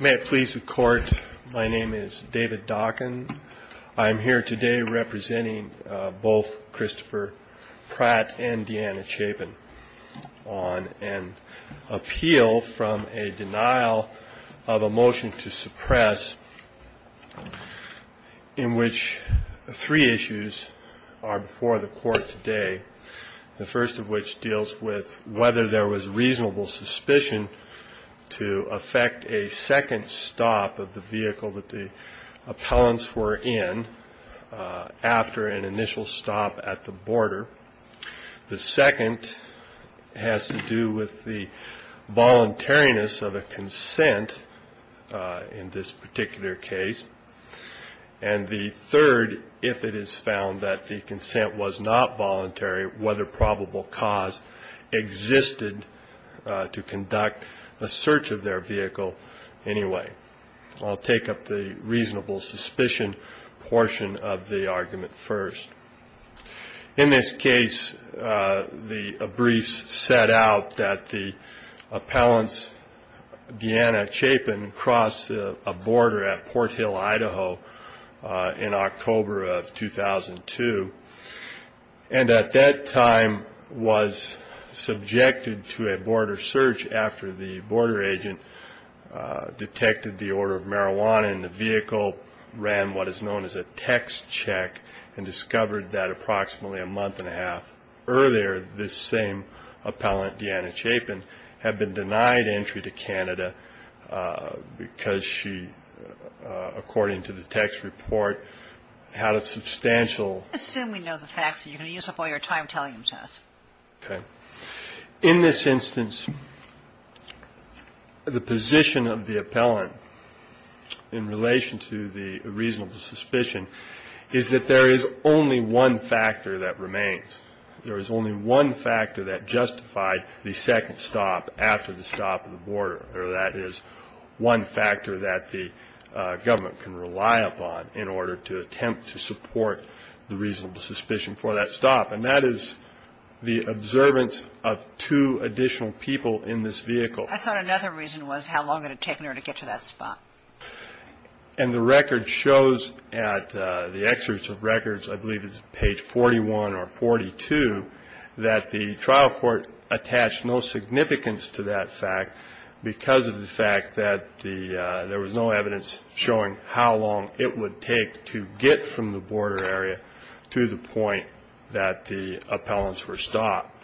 May it please the Court, my name is David Dockin. I am here today representing both Christopher Pratt and Deanna Chapin on an appeal from a denial of a motion to suppress in which three issues are before the Court today, the first of which deals with whether there was reasonable suspicion to affect a second stop of the vehicle that the appellants were in after an initial stop at the border. The second has to do with the voluntariness of a consent in this particular case. And the third, if it is found that the consent was not voluntary, whether probable cause existed to conduct a search of their vehicle anyway. I'll take up the reasonable suspicion portion of the argument first. In this case, the briefs set out that the appellants, Deanna Chapin, crossed a border at Port Hill, Idaho in October of 2002. And at that time was subjected to a border search after the border agent detected the order of marijuana in the vehicle, ran what is known as a text check, and discovered that approximately a month and a half earlier, this same appellant, Deanna Chapin, had been denied entry to Canada because she, according to the text report, had a substantial amount of marijuana. Now, the reason that the appellant was denied entry to Canada is because she had been denied entry to Canada. Now, the reason that the appellant was denied entry to Canada is because she had been denied entry to Canada. to attempt to support the reasonable suspicion for that stop. And that is the observance of two additional people in this vehicle. I thought another reason was how long it had taken her to get to that spot. And the record shows at the excerpts of records, I believe it's page 41 or 42, that the trial court attached no significance to that fact because of the fact that there was no evidence showing how long it would take to get from the border area to the point that the appellants were stopped.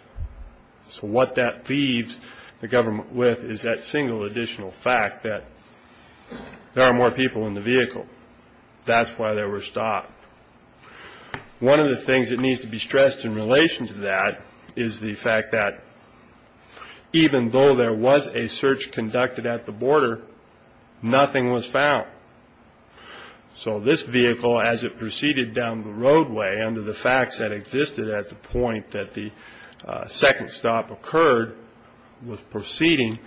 So what that leaves the government with is that single additional fact that there are more people in the vehicle. That's why they were stopped. One of the things that needs to be stressed in relation to that is the fact that even though there was a search conducted at the border, nothing was found. So this vehicle, as it proceeded down the roadway under the facts that existed at the point that the second stop occurred, was proceeding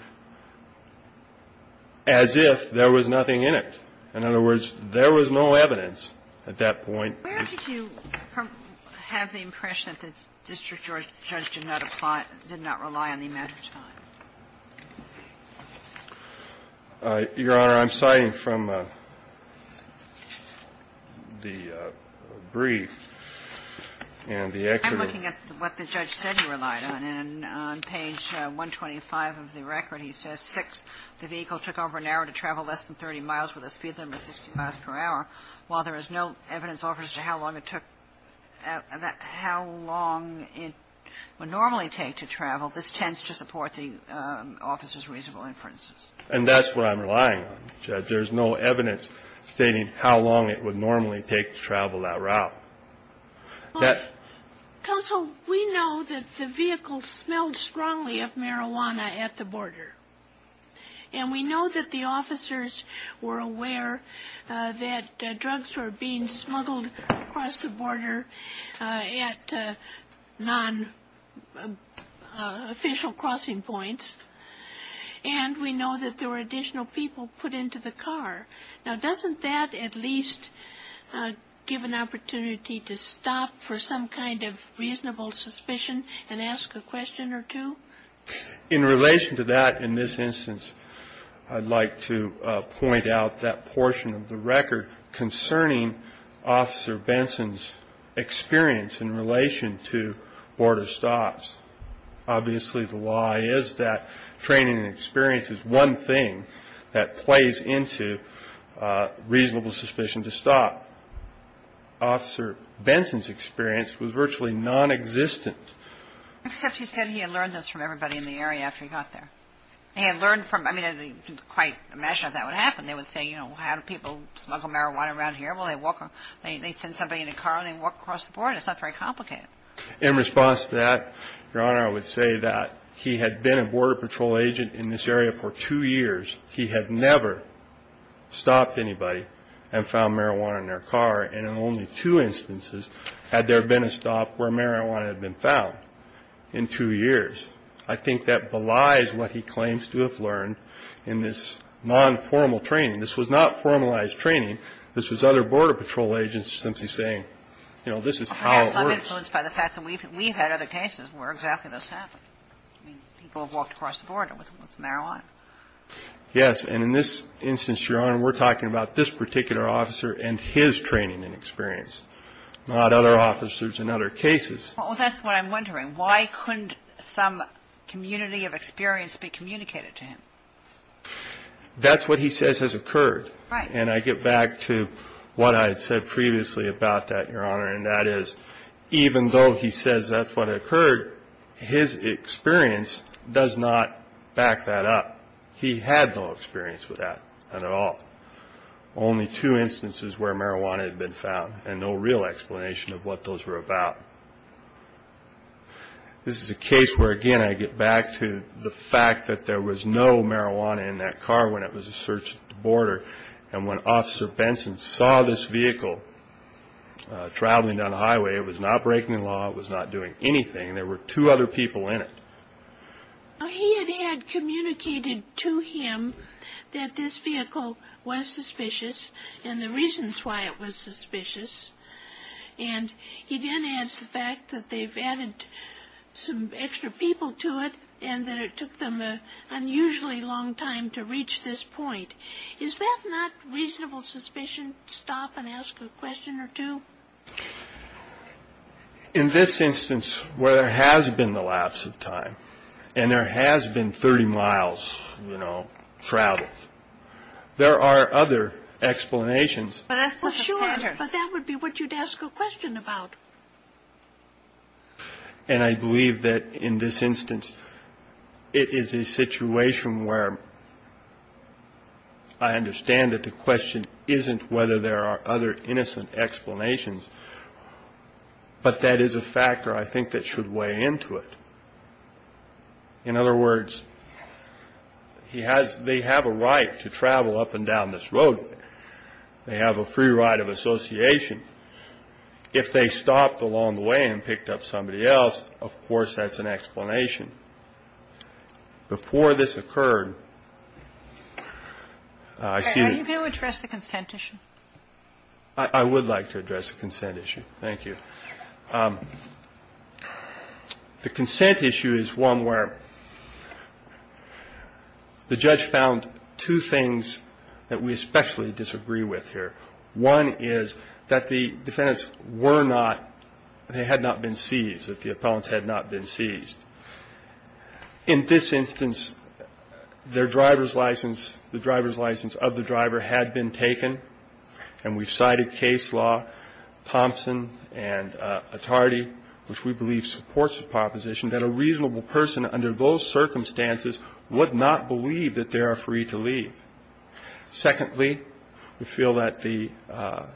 as if there was nothing in it. In other words, there was no evidence at that point. Where did you have the impression that the district judge did not apply, did not rely on the amount of time? Your Honor, I'm citing from the brief and the excerpt. I'm looking at what the judge said he relied on. And on page 125 of the record, he says, 6, the vehicle took over an hour to travel less than 30 miles with a speed limit of 60 miles per hour. While there is no evidence to how long it would normally take to travel, this tends to support the officer's reasonable inferences. And that's what I'm relying on, Judge. There's no evidence stating how long it would normally take to travel that route. Counsel, we know that the vehicle smelled strongly of marijuana at the border. And we know that the officers were aware that drugs were being smuggled across the border at non-official crossing points. And we know that there were additional people put into the car. Now, doesn't that at least give an opportunity to stop for some kind of reasonable suspicion and ask a question or two? In relation to that, in this instance, I'd like to point out that portion of the record concerning Officer Benson's experience in relation to border stops. Obviously, the lie is that training and experience is one thing that plays into reasonable suspicion to stop. Officer Benson's experience was virtually nonexistent. Except he said he had learned this from everybody in the area after he got there. He had learned from – I mean, I didn't quite imagine that that would happen. They would say, you know, how do people smuggle marijuana around here? Well, they walk – they send somebody in a car and they walk across the border. It's not very complicated. In response to that, Your Honor, I would say that he had been a Border Patrol agent in this area for two years. He had never stopped anybody and found marijuana in their car. And in only two instances had there been a stop where marijuana had been found in two years. I think that belies what he claims to have learned in this nonformal training. This was not formalized training. This was other Border Patrol agents simply saying, you know, this is how it works. I'm influenced by the fact that we've had other cases where exactly this happened. I mean, people have walked across the border with marijuana. Yes, and in this instance, Your Honor, we're talking about this particular officer and his training and experience, not other officers in other cases. Well, that's what I'm wondering. Why couldn't some community of experience be communicated to him? That's what he says has occurred. Right. And I get back to what I had said previously about that, Your Honor, and that is even though he says that's what occurred, his experience does not back that up. He had no experience with that at all. Only two instances where marijuana had been found and no real explanation of what those were about. This is a case where, again, I get back to the fact that there was no marijuana in that car when it was a search at the border. And when Officer Benson saw this vehicle traveling down the highway, it was not breaking the law. It was not doing anything. There were two other people in it. He had communicated to him that this vehicle was suspicious and the reasons why it was suspicious. And he then adds the fact that they've added some extra people to it and that it took them an unusually long time to reach this point. Is that not reasonable suspicion to stop and ask a question or two? In this instance where there has been the lapse of time and there has been 30 miles, you know, traveled, there are other explanations. But that's not a standard. Well, sure, but that would be what you'd ask a question about. And I believe that in this instance, it is a situation where. I understand that the question isn't whether there are other innocent explanations, but that is a factor I think that should weigh into it. In other words, he has they have a right to travel up and down this road. They have a free right of association. If they stopped along the way and picked up somebody else, of course, that's an explanation. Before this occurred, I see you can address the consent issue. I would like to address the consent issue. Thank you. The consent issue is one where the judge found two things that we especially disagree with here. One is that the defendants were not, they had not been seized, that the appellants had not been seized. In this instance, their driver's license, the driver's license of the driver had been taken, and we cited case law, Thompson and Attardi, which we believe supports the proposition, that a reasonable person under those circumstances would not believe that they are free to leave. Secondly, we feel that the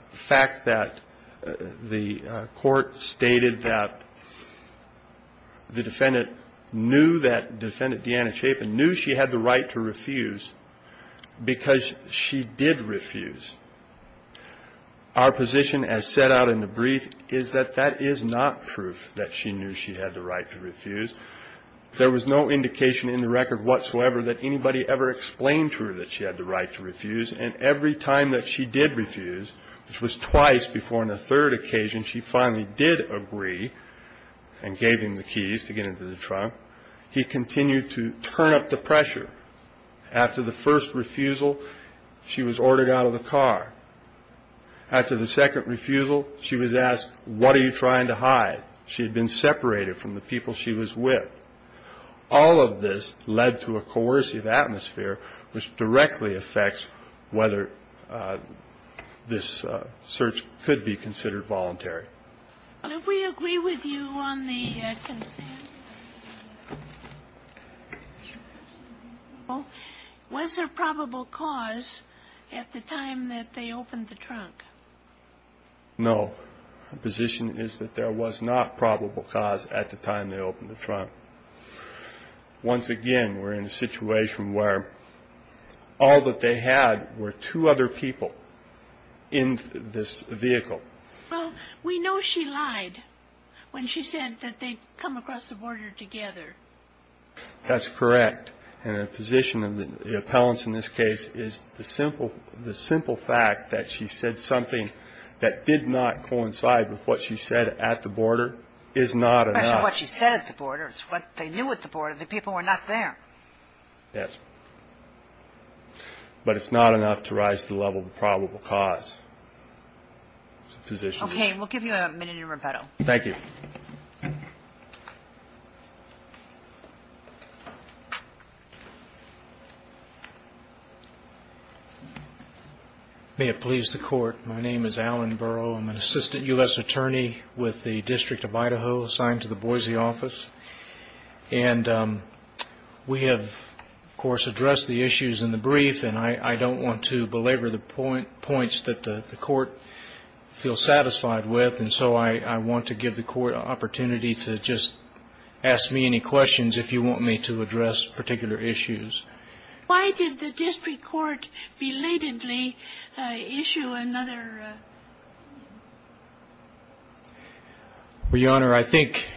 fact that the court stated that the defendant knew that, defendant Deanna Chapin knew she had the right to refuse because she did refuse. Our position as set out in the brief is that that is not proof that she knew she had the right to refuse. There was no indication in the record whatsoever that anybody ever explained to her that she had the right to refuse, and every time that she did refuse, which was twice before in the third occasion she finally did agree and gave him the keys to get into the trunk, he continued to turn up the pressure. After the first refusal, she was ordered out of the car. After the second refusal, she was asked, what are you trying to hide? She had been separated from the people she was with. All of this led to a coercive atmosphere which directly affects whether this search could be considered voluntary. If we agree with you on the consent, was there probable cause at the time that they opened the trunk? No. The position is that there was not probable cause at the time they opened the trunk. Once again, we're in a situation where all that they had were two other people in this vehicle. Well, we know she lied when she said that they'd come across the border together. That's correct. And the position of the appellants in this case is the simple fact that she said something that did not coincide with what she said at the border is not enough. Especially what she said at the border. It's what they knew at the border. The people were not there. Yes. But it's not enough to rise to the level of probable cause. Okay. We'll give you a minute to rebuttal. Thank you. May it please the court. My name is Alan Burrow. I'm an assistant U.S. attorney with the District of Idaho assigned to the Boise office. And we have, of course, addressed the issues in the brief. And I don't want to belabor the points that the court feels satisfied with. And so I want to give the court an opportunity to just ask me any questions if you want me to address particular issues. Why did the district court belatedly issue another? Your Honor, I think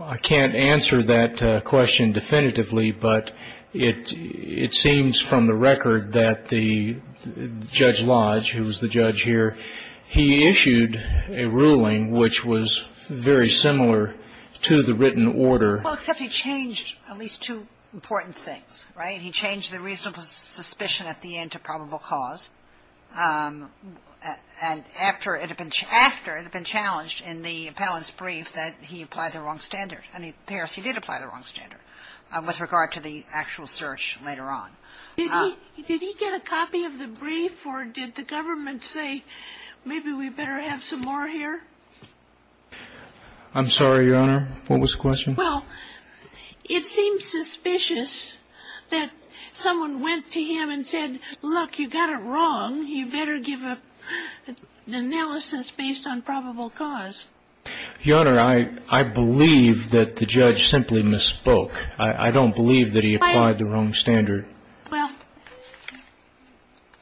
I can't answer that question definitively. But it seems from the record that the Judge Lodge, who was the judge here, he issued a ruling which was very similar to the written order. Well, except he changed at least two important things, right? He changed the reasonable suspicion at the end to probable cause. And after it had been challenged in the appellant's brief that he applied the wrong standard. And it appears he did apply the wrong standard with regard to the actual search later on. Did he get a copy of the brief or did the government say maybe we better have some more here? I'm sorry, Your Honor. What was the question? Well, it seems suspicious that someone went to him and said, look, you got it wrong. You better give an analysis based on probable cause. Your Honor, I believe that the judge simply misspoke. I don't believe that he applied the wrong standard. Well,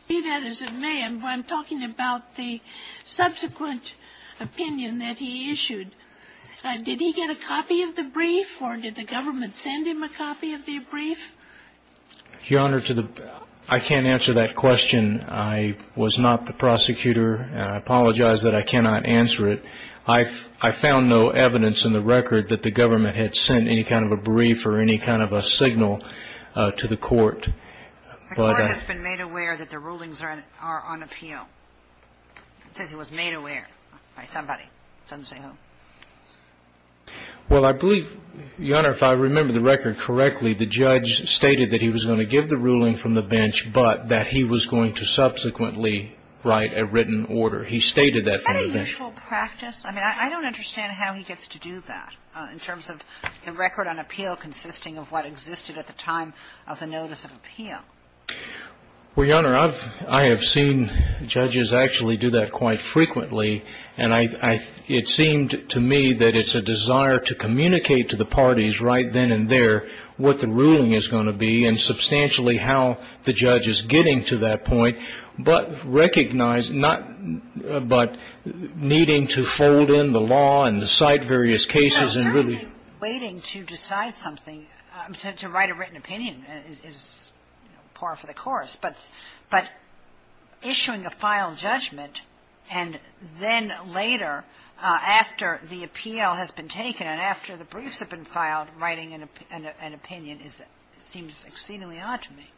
be that as it may, I'm talking about the subsequent opinion that he issued. Did he get a copy of the brief or did the government send him a copy of the brief? Your Honor, I can't answer that question. I was not the prosecutor. I apologize that I cannot answer it. I found no evidence in the record that the government had sent any kind of a brief or any kind of a signal to the court. The court has been made aware that the rulings are on appeal. It says he was made aware by somebody. It doesn't say who. Well, I believe, Your Honor, if I remember the record correctly, the judge stated that he was going to give the ruling from the bench, but that he was going to subsequently write a written order. He stated that from the bench. Is that a usual practice? I mean, I don't understand how he gets to do that in terms of a record on appeal consisting of what existed at the time of the notice of appeal. Well, Your Honor, I have seen judges actually do that quite frequently, and it seemed to me that it's a desire to communicate to the parties right then and there what the ruling is going to be and substantially how the judge is getting to that point, but recognize not — but needing to fold in the law and decide various cases and really — Well, certainly waiting to decide something, to write a written opinion is par for the course. But issuing a final judgment and then later, after the appeal has been taken and after the briefs have been filed, writing an opinion seems exceedingly odd to me.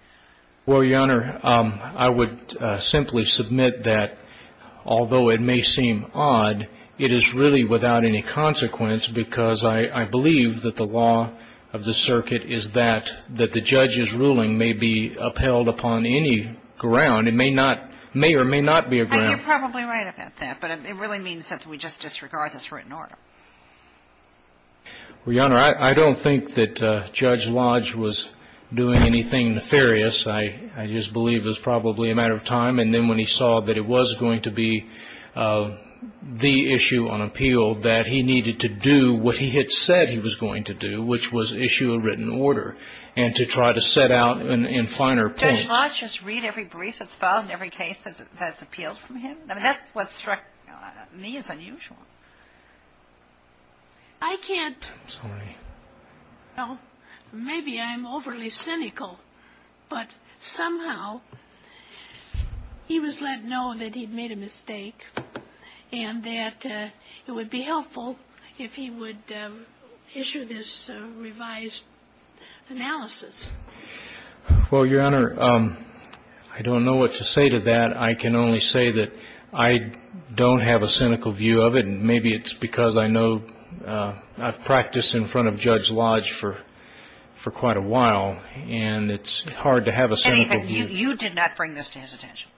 Well, Your Honor, I would simply submit that although it may seem odd, it is really without any consequence because I believe that the law of the circuit is that the judge's ruling may be upheld upon any ground. It may not — may or may not be a ground. I mean, you're probably right about that, but it really means that we just disregard this written order. Well, Your Honor, I don't think that Judge Lodge was doing anything nefarious. I just believe it was probably a matter of time. And then when he saw that it was going to be the issue on appeal that he needed to do what he had said he was going to do, which was issue a written order and to try to set out in finer points — in every case that's appealed from him. I mean, that's what struck me as unusual. I can't — I'm sorry. Well, maybe I'm overly cynical, but somehow he was letting know that he'd made a mistake and that it would be helpful if he would issue this revised analysis. Well, Your Honor, I don't know what to say to that. I can only say that I don't have a cynical view of it, and maybe it's because I know — I've practiced in front of Judge Lodge for quite a while, and it's hard to have a cynical view. You did not bring this to his attention.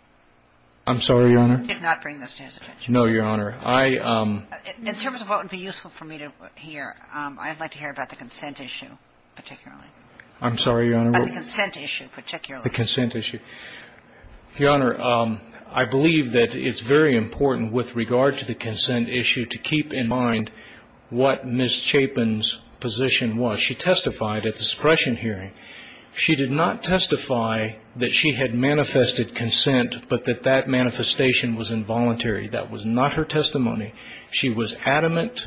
I'm sorry, Your Honor? You did not bring this to his attention. No, Your Honor. In terms of what would be useful for me to hear, I'd like to hear about the consent issue particularly. I'm sorry, Your Honor? The consent issue in particular. The consent issue. Your Honor, I believe that it's very important with regard to the consent issue to keep in mind what Ms. Chapin's position was. She testified at the suppression hearing. She did not testify that she had manifested consent but that that manifestation was involuntary. That was not her testimony. She was adamant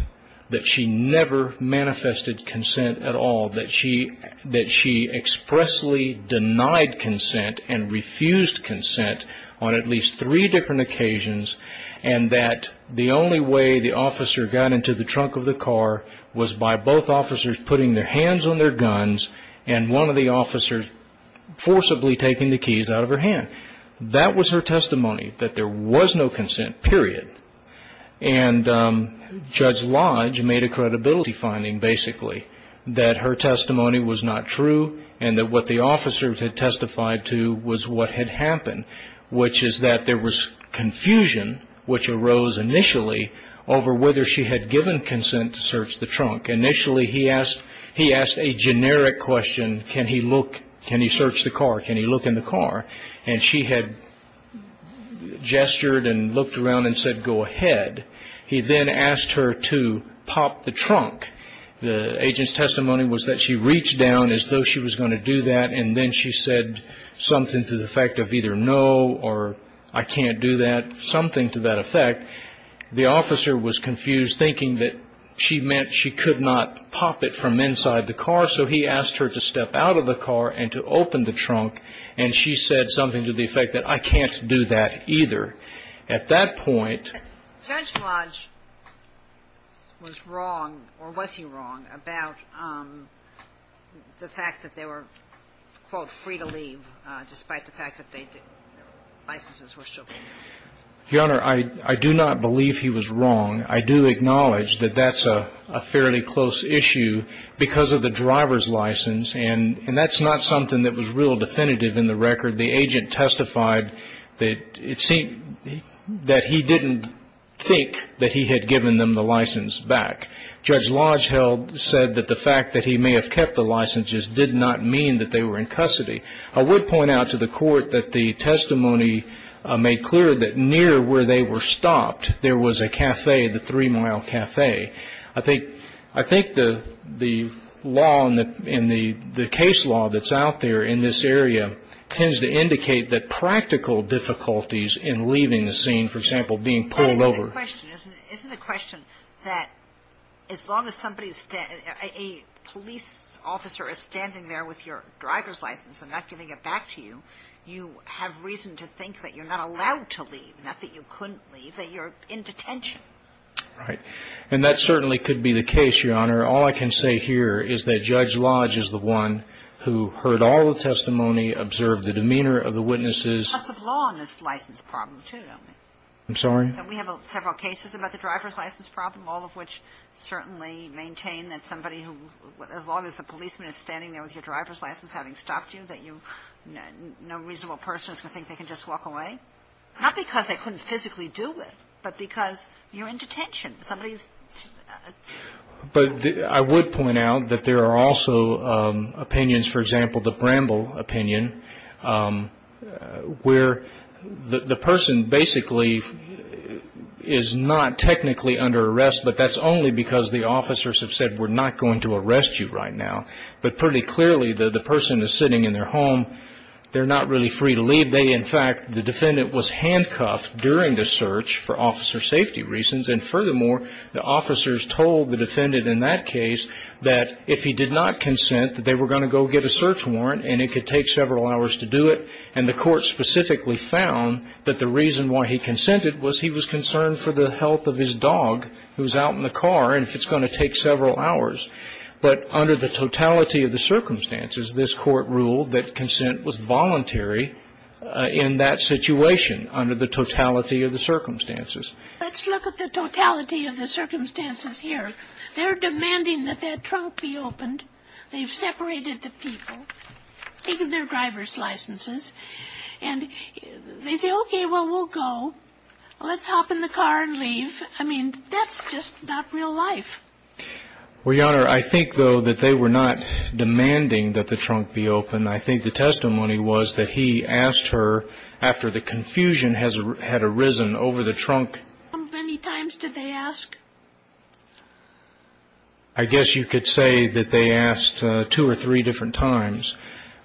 that she never manifested consent at all, that she expressly denied consent and refused consent on at least three different occasions, and that the only way the officer got into the trunk of the car was by both officers putting their hands on their guns and one of the officers forcibly taking the keys out of her hand. That was her testimony, that there was no consent, period. And Judge Lodge made a credibility finding, basically, that her testimony was not true and that what the officers had testified to was what had happened, which is that there was confusion which arose initially over whether she had given consent to search the trunk. Initially, he asked a generic question, can he look, can he search the car, can he look in the car? And she had gestured and looked around and said, go ahead. He then asked her to pop the trunk. The agent's testimony was that she reached down as though she was going to do that and then she said something to the effect of either no or I can't do that, something to that effect. The officer was confused, thinking that she meant she could not pop it from inside the car, so he asked her to step out of the car and to open the trunk and she said something to the effect that I can't do that either. At that point. Judge Lodge was wrong or was he wrong about the fact that they were, quote, free to leave, despite the fact that their licenses were still valid? Your Honor, I do not believe he was wrong. I do acknowledge that that's a fairly close issue because of the driver's license and that's not something that was real definitive in the record. The agent testified that it seemed that he didn't think that he had given them the license back. Judge Lodge said that the fact that he may have kept the licenses did not mean that they were in custody. I would point out to the court that the testimony made clear that near where they were stopped, there was a cafe, the three-mile cafe. I think the law and the case law that's out there in this area tends to indicate that practical difficulties in leaving the scene, for example, being pulled over. But isn't the question that as long as a police officer is standing there with your driver's license and not giving it back to you, you have reason to think that you're not allowed to leave, not that you couldn't leave, that you're in detention? Right. And that certainly could be the case, Your Honor. All I can say here is that Judge Lodge is the one who heard all the testimony, observed the demeanor of the witnesses. There's lots of law in this license problem too, don't there? I'm sorry? We have several cases about the driver's license problem, all of which certainly maintain that somebody who, as long as the policeman is standing there with your driver's license having stopped you, that no reasonable person is going to think they can just walk away? Not because they couldn't physically do it, but because you're in detention. Somebody's... But I would point out that there are also opinions, for example, the Bramble opinion, where the person basically is not technically under arrest, but that's only because the officers have said we're not going to arrest you right now. But pretty clearly the person is sitting in their home. They're not really free to leave. In fact, the defendant was handcuffed during the search for officer safety reasons, and furthermore, the officers told the defendant in that case that if he did not consent, that they were going to go get a search warrant and it could take several hours to do it. And the court specifically found that the reason why he consented was he was concerned for the health of his dog who was out in the car and if it's going to take several hours. But under the totality of the circumstances, this court ruled that consent was voluntary in that situation, under the totality of the circumstances. Let's look at the totality of the circumstances here. They're demanding that that trunk be opened. They've separated the people, even their driver's licenses. And they say, okay, well, we'll go. Let's hop in the car and leave. I mean, that's just not real life. Well, Your Honor, I think, though, that they were not demanding that the trunk be opened. I think the testimony was that he asked her after the confusion had arisen over the trunk. How many times did they ask? I guess you could say that they asked two or three different times.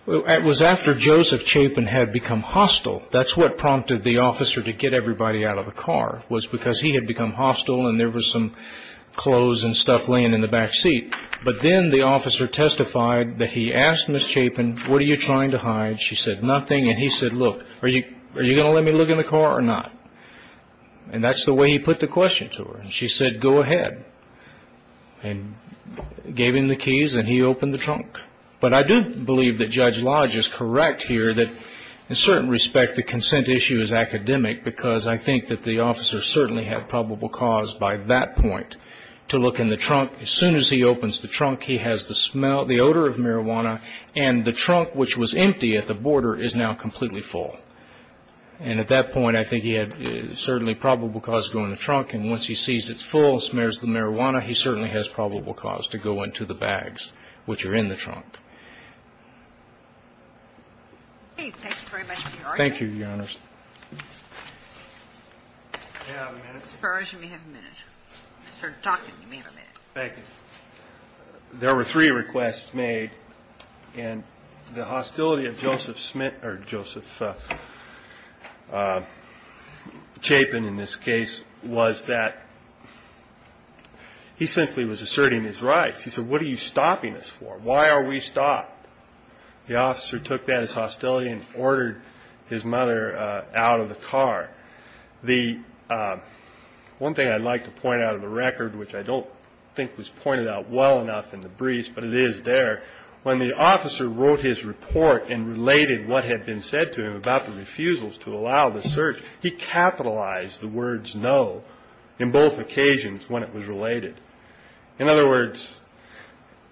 It was after Joseph Chapin had become hostile. That's what prompted the officer to get everybody out of the car was because he had become hostile and there was some clothes and stuff laying in the back seat. But then the officer testified that he asked Ms. Chapin, what are you trying to hide? She said, nothing. And he said, look, are you going to let me look in the car or not? And that's the way he put the question to her. And she said, go ahead and gave him the keys and he opened the trunk. But I do believe that Judge Lodge is correct here that, in certain respect, the consent issue is academic because I think that the officer certainly had probable cause by that point to look in the trunk. As soon as he opens the trunk, he has the smell, the odor of marijuana, and the trunk, which was empty at the border, is now completely full. And at that point, I think he had certainly probable cause to go in the trunk. And once he sees it's full and smears the marijuana, he certainly has probable cause to go into the bags which are in the trunk. Thank you very much, Your Honor. Thank you, Your Honor. May I have a minute? Your Honor, you may have a minute. I started talking. You may have a minute. Thank you. There were three requests made, and the hostility of Joseph Smith or Joseph Chapin, in this case, was that he simply was asserting his rights. He said, what are you stopping us for? Why are we stopping you? The officer took that as hostility and ordered his mother out of the car. One thing I'd like to point out of the record, which I don't think was pointed out well enough in the briefs, but it is there. When the officer wrote his report and related what had been said to him about the refusals to allow the search, he capitalized the words no in both occasions when it was related. In other words,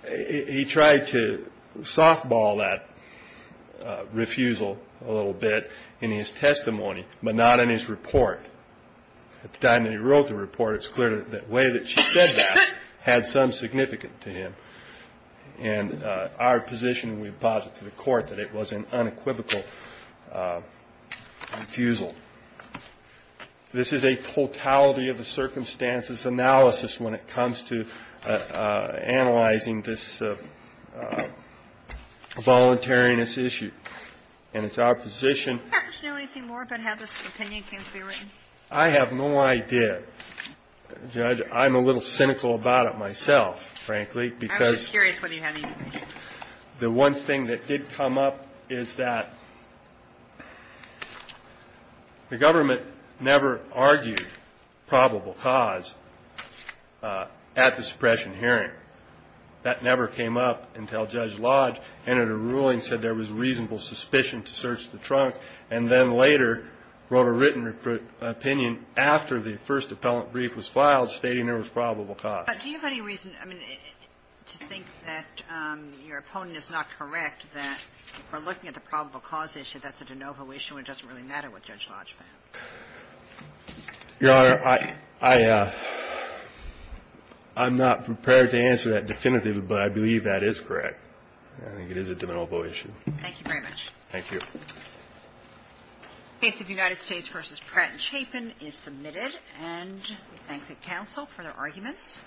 he tried to softball that refusal a little bit in his testimony, but not in his report. At the time that he wrote the report, it's clear that the way that she said that had some significance to him. And our position, we posit to the court that it was an unequivocal refusal. This is a totality of the circumstances analysis when it comes to analyzing this voluntariness issue. And it's our position. Do you know anything more about how this opinion came to be written? I have no idea. Judge, I'm a little cynical about it myself, frankly, because the one thing that did come up is that the government never argued probable cause at the suppression hearing. That never came up until Judge Lodge entered a ruling, said there was reasonable suspicion to search the trunk, and then later wrote a written opinion after the first appellant brief was filed stating there was probable cause. But do you have any reason, I mean, to think that your opponent is not correct, that we're looking at the probable cause issue, that's a de novo issue, and it doesn't really matter what Judge Lodge found? Your Honor, I'm not prepared to answer that definitively, but I believe that is correct. I think it is a de novo issue. Thank you very much. Thank you. The case of United States v. Pratt and Chapin is submitted, and we thank the counsel for their arguments.